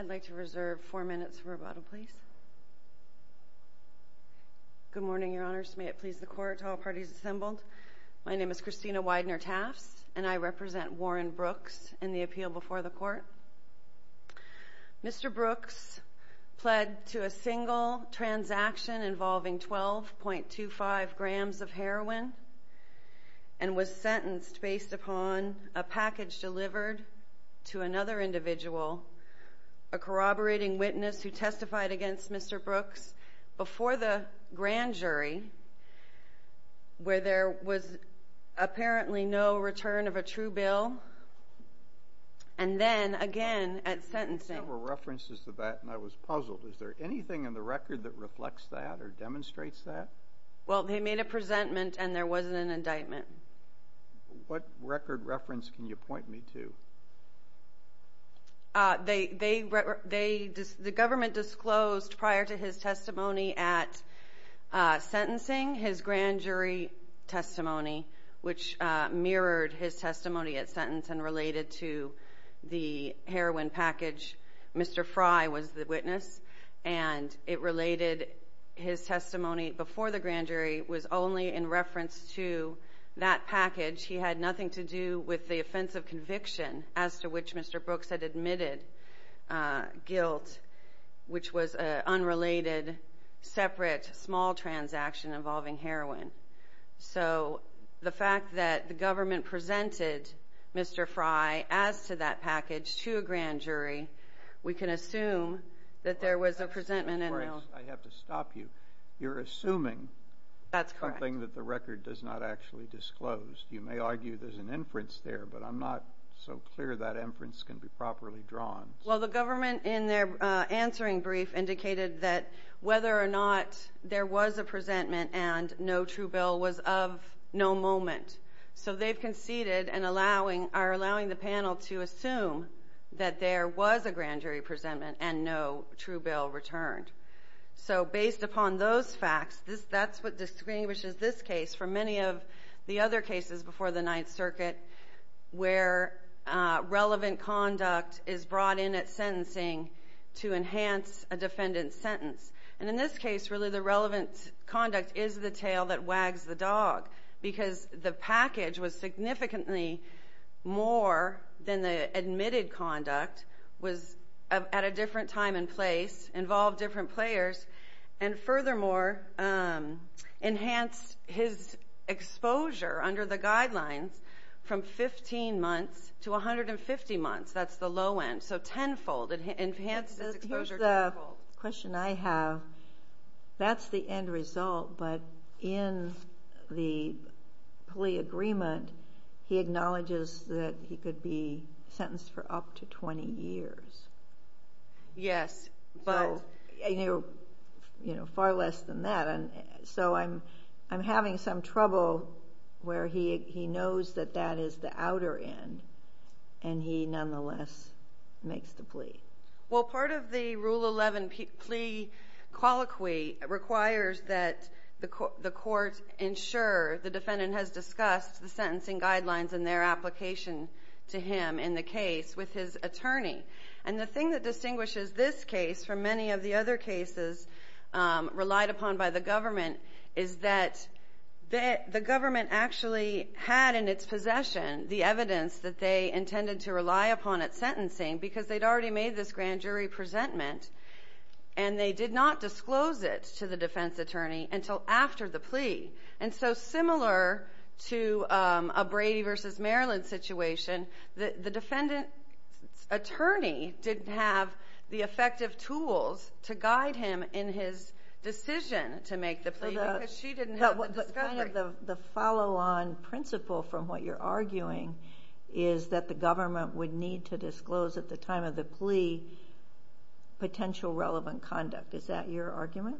I'd like to reserve four minutes for rebuttal, please. Good morning, Your Honors. May it please the Court, all parties assembled. My name is Christina Widener-Tafts, and I represent Warren Brooks in the appeal before the Court. Mr. Brooks pled to a single transaction involving 12.25 grams of heroin and was sentenced based upon a package delivered to another individual, a corroborating witness who testified against Mr. Brooks, before the grand jury where there was apparently no return of a true bill, and then again at sentencing. There were references to that, and I was puzzled. Is there anything in the record that reflects that or demonstrates that? Well, they made a presentment, and there wasn't an indictment. What record reference can you point me to? The government disclosed prior to his testimony at sentencing his grand jury testimony, which mirrored his testimony at sentence and related to the heroin package. Mr. Fry was the witness, and it related his testimony before the grand jury, was only in reference to that package. He had nothing to do with the offense of conviction as to which Mr. Brooks had admitted guilt, which was an unrelated, separate, small transaction involving heroin. So the fact that the government presented Mr. Fry as to that package to a grand jury, we can assume that there was a presentment. I have to stop you. You're assuming something that the record does not actually disclose. You may argue there's an inference there, but I'm not so clear that inference can be properly drawn. Well, the government, in their answering brief, indicated that whether or not there was a presentment and no true bill was of no moment. So they've conceded and are allowing the panel to assume that there was a grand jury presentment and no true bill returned. So based upon those facts, that's what distinguishes this case from many of the other cases before the Ninth Circuit where relevant conduct is brought in at sentencing to enhance a defendant's sentence. And in this case, really, the relevant conduct is the tail that wags the dog because the package was significantly more than the admitted conduct, was at a different time and place, involved different players, and furthermore, enhanced his exposure under the guidelines from 15 months to 150 months. That's the low end. So tenfold. It enhanced his exposure tenfold. Here's the question I have. That's the end result, but in the plea agreement, he acknowledges that he could be sentenced for up to 20 years. Yes, but... Far less than that. So I'm having some trouble where he knows that that is the outer end and he nonetheless makes the plea. Well, part of the Rule 11 plea colloquy requires that the court ensure the defendant has discussed the sentencing guidelines and their application to him in the case with his attorney. And the thing that distinguishes this case from many of the other cases relied upon by the government is that the government actually had in its possession the evidence that they intended to rely upon at sentencing because they'd already made this grand jury presentment and they did not disclose it to the defense attorney until after the plea. And so similar to a Brady v. Maryland situation, the defendant's attorney didn't have the effective tools to guide him in his decision to make the plea because she didn't have the discovery. The follow-on principle from what you're arguing is that the government would need to disclose at the time of the plea potential relevant conduct. Is that your argument?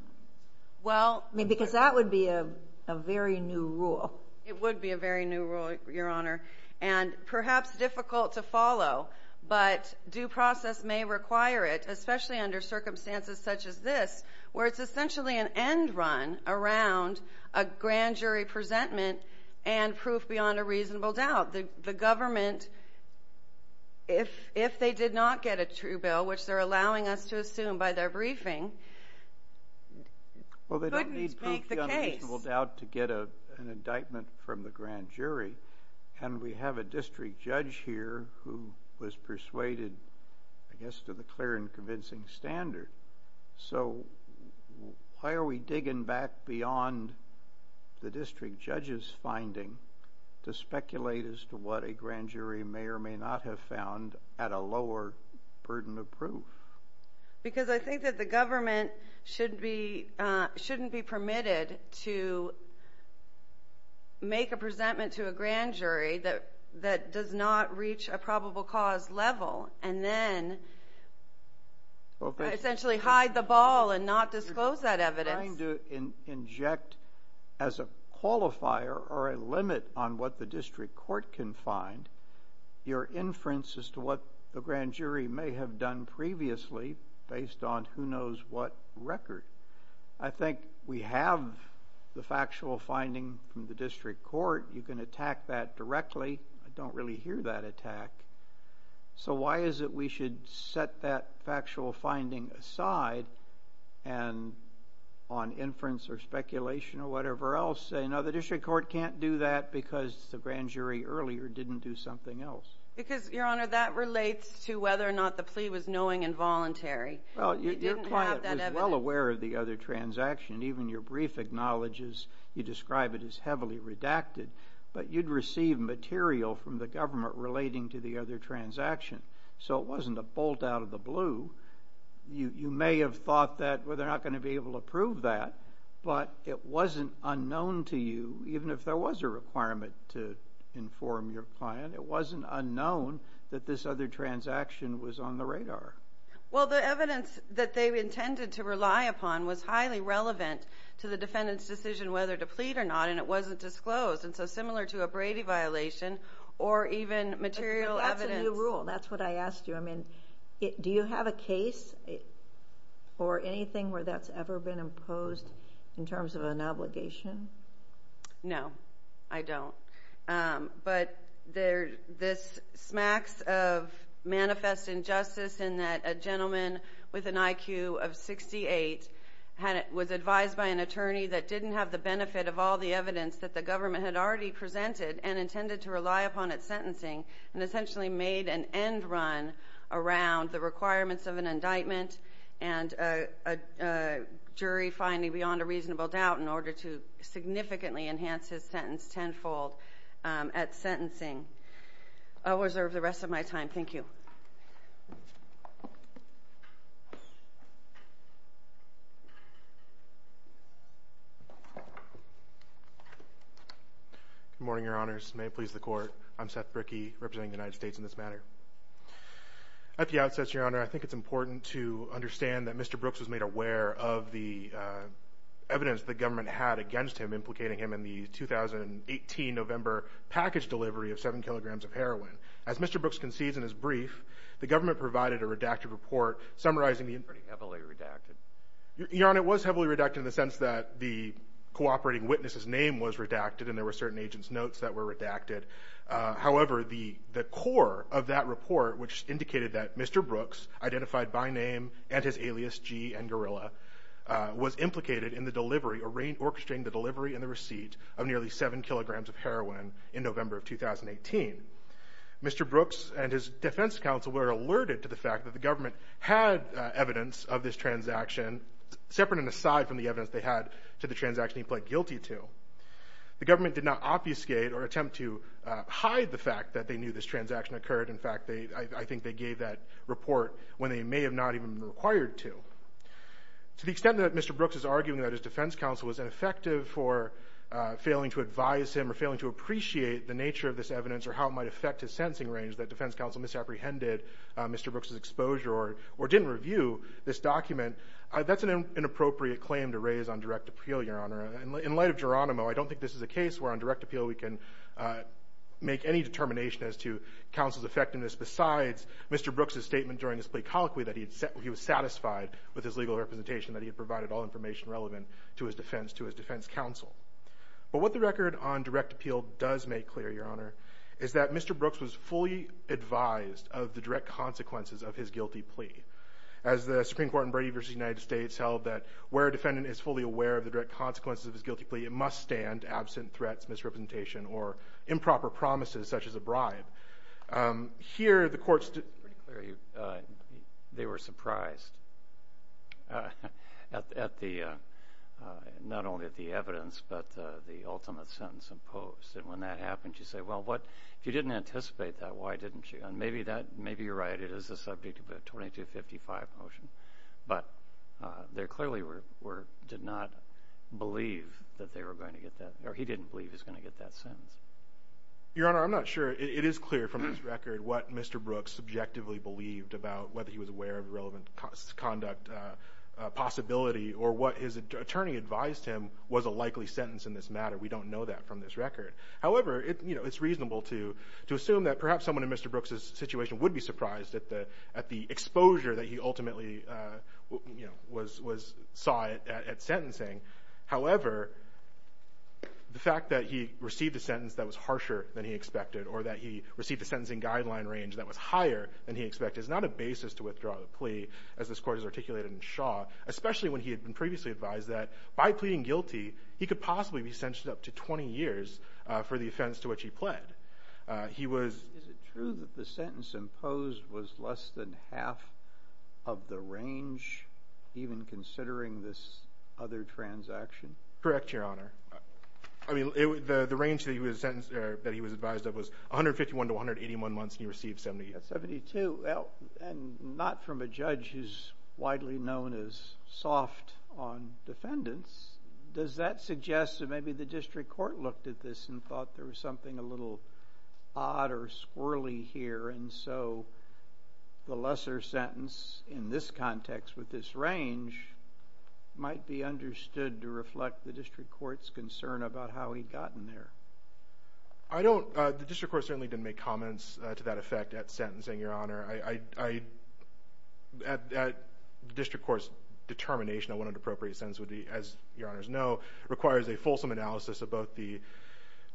Well... Because that would be a very new rule. It would be a very new rule, Your Honor. And perhaps difficult to follow, but due process may require it, especially under circumstances such as this, where it's essentially an end run around a grand jury presentment and proof beyond a reasonable doubt. The government, if they did not get a true bill, which they're allowing us to assume by their briefing, couldn't make the case. Well, they don't need proof beyond a reasonable doubt to get an indictment from the grand jury. And we have a district judge here who was persuaded, I guess, to the clear and convincing standard. So why are we digging back beyond the district judge's finding to speculate as to what a grand jury may or may not have found at a lower burden of proof? Because I think that the government shouldn't be permitted to make a presentment to a grand jury that does not reach a probable cause level and then essentially hide the ball and not disclose that evidence. You're trying to inject as a qualifier or a limit on what the district court can find your inference as to what the grand jury may have done previously based on who knows what record. I think we have the factual finding from the district court. You can attack that directly. I don't really hear that attack. So why is it we should set that factual finding aside and on inference or speculation or whatever else say, no, the district court can't do that because the grand jury earlier didn't do something else. Because, Your Honor, that relates to whether or not the plea was knowing and voluntary. Well, your client was well aware of the other transaction. Even your brief acknowledges you describe it as heavily redacted. But you'd receive material from the government relating to the other transaction. So it wasn't a bolt out of the blue. You may have thought that, well, they're not going to be able to prove that. But it wasn't unknown to you, even if there was a requirement to inform your client, it wasn't unknown that this other transaction was on the radar. Well, the evidence that they intended to rely upon was highly relevant to the defendant's decision whether to plead or not. And it wasn't disclosed. And so similar to a Brady violation or even material evidence. That's a new rule. That's what I asked you. I mean, do you have a case or anything where that's ever been imposed in terms of an obligation? No, I don't. But this smacks of manifest injustice in that a gentleman with an IQ of 68 was advised by an attorney that didn't have the benefit of all the evidence that the government had already presented and intended to rely upon at sentencing and essentially made an end run around the requirements of an indictment and a jury finding beyond a reasonable doubt in order to significantly enhance his sentence tenfold at sentencing. I'll reserve the rest of my time. Thank you. Good morning, Your Honors. May it please the Court. I'm Seth Brickey representing the United States in this matter. At the outset, Your Honor, I think it's important to understand that Mr. Brooks was made aware of the evidence the government had against him implicating him in the 2018 November package delivery of seven kilograms of heroin. As Mr. Brooks concedes in his brief, the government provided a redacted report summarizing the inquiry. Pretty heavily redacted. Your Honor, it was heavily redacted in the sense that the cooperating witness's name was redacted and there were certain agent's notes that were redacted. However, the core of that report, which indicated that Mr. Brooks, identified by name and his alias, G. N. Gorilla, was implicated in the delivery, orchestrating the delivery and the receipt of nearly seven kilograms of heroin in November of 2018. Mr. Brooks and his defense counsel were alerted to the fact that the government had evidence of this transaction, separate and aside from the evidence they had to the transaction he pled guilty to. The government did not obfuscate or attempt to hide the fact that they knew this transaction occurred. In fact, I think they gave that report when they may have not even been required to. To the extent that Mr. Brooks is arguing that his defense counsel was ineffective for failing to advise him or failing to appreciate the nature of this evidence or how it might affect his sentencing range, that defense counsel misapprehended Mr. Brooks' exposure or didn't review this document, that's an inappropriate claim to raise on direct appeal, Your Honor. In light of Geronimo, I don't think this is a case where on direct appeal we can make any determination as to counsel's effectiveness besides Mr. Brooks' statement during his plea colloquy that he was satisfied with his legal representation, that he had provided all information relevant to his defense counsel. But what the record on direct appeal does make clear, Your Honor, is that Mr. Brooks was fully advised of the direct consequences of his guilty plea. As the Supreme Court in Brady v. United States held that where a defendant is fully aware of the direct consequences of his guilty plea, it must stand absent threats, misrepresentation, or improper promises such as a bribe. Here the courts did... It's pretty clear they were surprised not only at the evidence but the ultimate sentence imposed. And when that happened, you say, well, if you didn't anticipate that, why didn't you? And maybe you're right, it is the subject of a 2255 motion. But they clearly did not believe that they were going to get that, or he didn't believe he was going to get that sentence. Your Honor, I'm not sure. It is clear from this record what Mr. Brooks subjectively believed about whether he was aware of relevant conduct possibility or what his attorney advised him was a likely sentence in this matter. We don't know that from this record. However, it's reasonable to assume that perhaps someone in Mr. Brooks' situation would be surprised at the exposure that he ultimately saw at sentencing. However, the fact that he received a sentence that was harsher than he expected or that he received a sentencing guideline range that was higher than he expected is not a basis to withdraw the plea as this Court has articulated in Shaw, especially when he had been previously advised that by pleading guilty, he could possibly be sentenced up to 20 years for the offense to which he pled. Is it true that the sentence imposed was less than half of the range, even considering this other transaction? Correct, Your Honor. The range that he was advised of was 151 to 181 months, and he received 72. 72. And not from a judge who's widely known as soft on defendants. Does that suggest that maybe the district court looked at this and thought there was something a little odd or squirrely here, and so the lesser sentence in this context with this range might be understood to reflect the district court's concern about how he'd gotten there? I don't. The district court certainly didn't make comments to that effect at sentencing, Your Honor. The district court's determination on what an appropriate sentence would be, as Your Honors know, requires a fulsome analysis of both the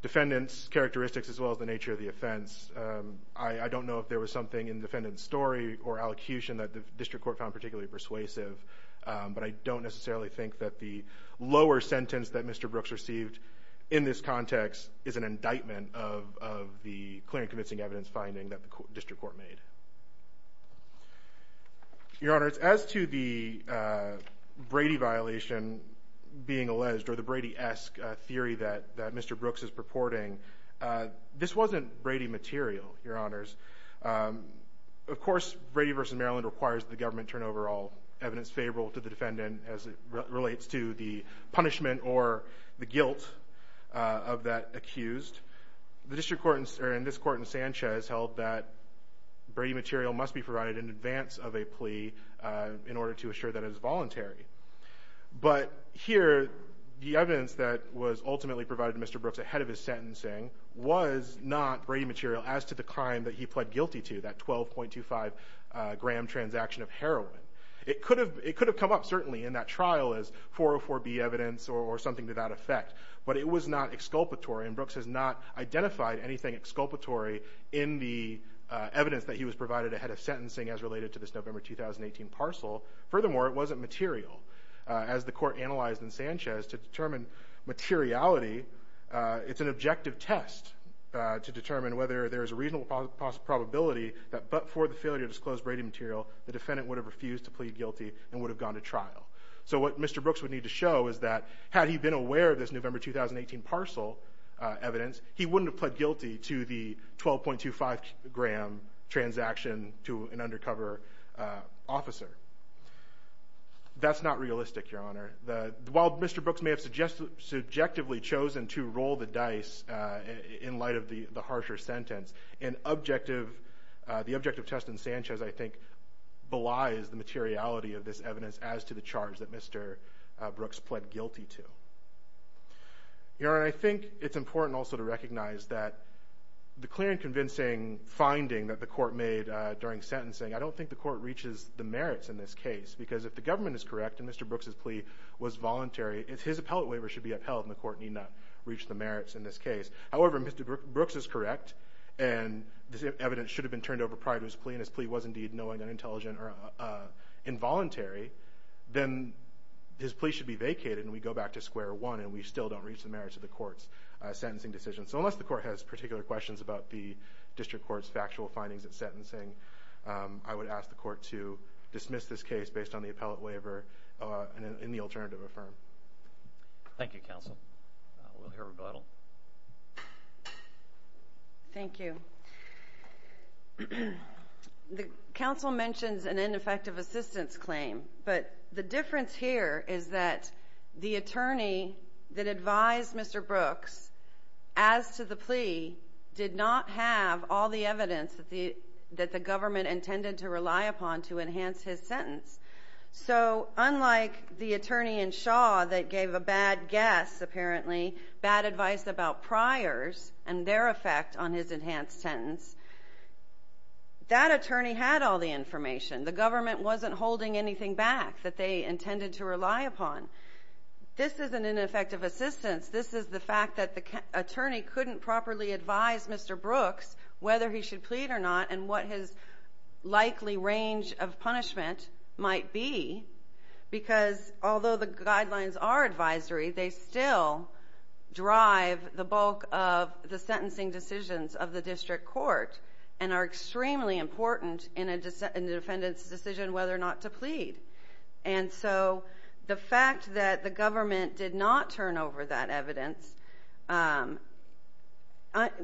defendant's characteristics as well as the nature of the offense. I don't know if there was something in the defendant's story or allocution that the district court found particularly persuasive, but I don't necessarily think that the lower sentence that Mr. Brooks received in this context is an indictment of the clear and convincing evidence finding that the district court made. Your Honors, as to the Brady violation being alleged, or the Brady-esque theory that Mr. Brooks is purporting, this wasn't Brady material, Your Honors. Of course, Brady v. Maryland requires the government turn over all evidence favorable to the defendant as it relates to the punishment or the guilt of that accused. The district court in this court in Sanchez held that Brady material must be provided in advance of a plea in order to assure that it is voluntary. But here the evidence that was ultimately provided to Mr. Brooks ahead of his sentencing was not Brady material as to the crime that he pled guilty to, that 12.25-gram transaction of heroin. It could have come up certainly in that trial as 404B evidence or something to that effect, but it was not exculpatory, and Brooks has not identified anything exculpatory in the evidence that he was provided ahead of sentencing as related to this November 2018 parcel. Furthermore, it wasn't material. As the court analyzed in Sanchez, to determine materiality, it's an objective test to determine whether there is a reasonable possibility that but for the failure to disclose Brady material, the defendant would have refused to plead guilty and would have gone to trial. So what Mr. Brooks would need to show is that had he been aware of this November 2018 parcel evidence, he wouldn't have pled guilty to the 12.25-gram transaction to an undercover officer. That's not realistic, Your Honor. While Mr. Brooks may have subjectively chosen to roll the dice in light of the harsher sentence, the objective test in Sanchez, I think, belies the materiality of this evidence as to the charge that Mr. Brooks pled guilty to. Your Honor, I think it's important also to recognize that the clear and convincing finding that the court made during sentencing, I don't think the court reaches the merits in this case because if the government is correct and Mr. Brooks' plea was voluntary, his appellate waiver should be upheld and the court need not reach the merits in this case. However, if Mr. Brooks is correct and this evidence should have been turned over prior to his plea and his plea was indeed knowing, unintelligent, or involuntary, then his plea should be vacated and we go back to square one and we still don't reach the merits of the court's sentencing decision. So unless the court has particular questions about the district court's factual findings at sentencing, I would ask the court to dismiss this case based on the appellate waiver and the alternative affirmed. Thank you, counsel. We'll hear rebuttal. Thank you. The counsel mentions an ineffective assistance claim, but the difference here is that the attorney that advised Mr. Brooks as to the plea did not have all the evidence that the government intended to rely upon to enhance his sentence. So unlike the attorney in Shaw that gave a bad guess, apparently, bad advice about priors and their effect on his enhanced sentence, that attorney had all the information. The government wasn't holding anything back that they intended to rely upon. This isn't an ineffective assistance. This is the fact that the attorney couldn't properly advise Mr. Brooks whether he should plead or not and what his likely range of punishment might be, because although the guidelines are advisory, they still drive the bulk of the sentencing decisions of the district court and are extremely important in a defendant's decision whether or not to plead. And so the fact that the government did not turn over that evidence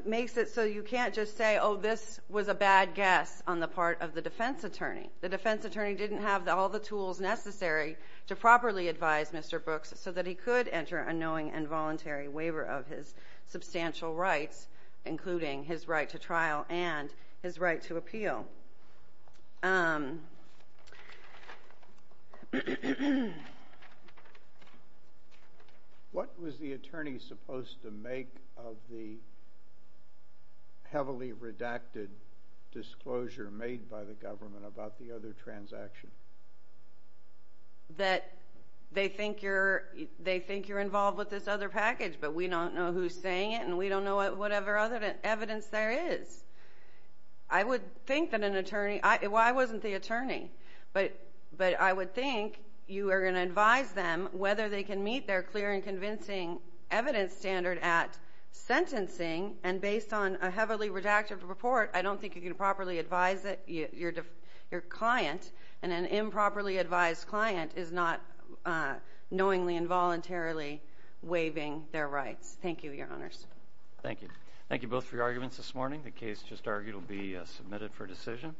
makes it so you can't just say, oh, this was a bad guess on the part of the defense attorney. The defense attorney didn't have all the tools necessary to properly advise Mr. Brooks so that he could enter a knowing and voluntary waiver of his substantial rights, including his right to trial and his right to appeal. What was the attorney supposed to make of the heavily redacted disclosure made by the government about the other transaction? That they think you're involved with this other package, but we don't know who's saying it and we don't know whatever other evidence there is. I would think that an attorney ñ well, I wasn't the attorney, but I would think you are going to advise them whether they can meet their clear and convincing evidence standard at sentencing, and based on a heavily redacted report I don't think you can properly advise your client, and an improperly advised client is not knowingly and voluntarily waiving their rights. Thank you, Your Honors. Thank you. Thank you both for your arguments this morning. The case just argued will be submitted for decision.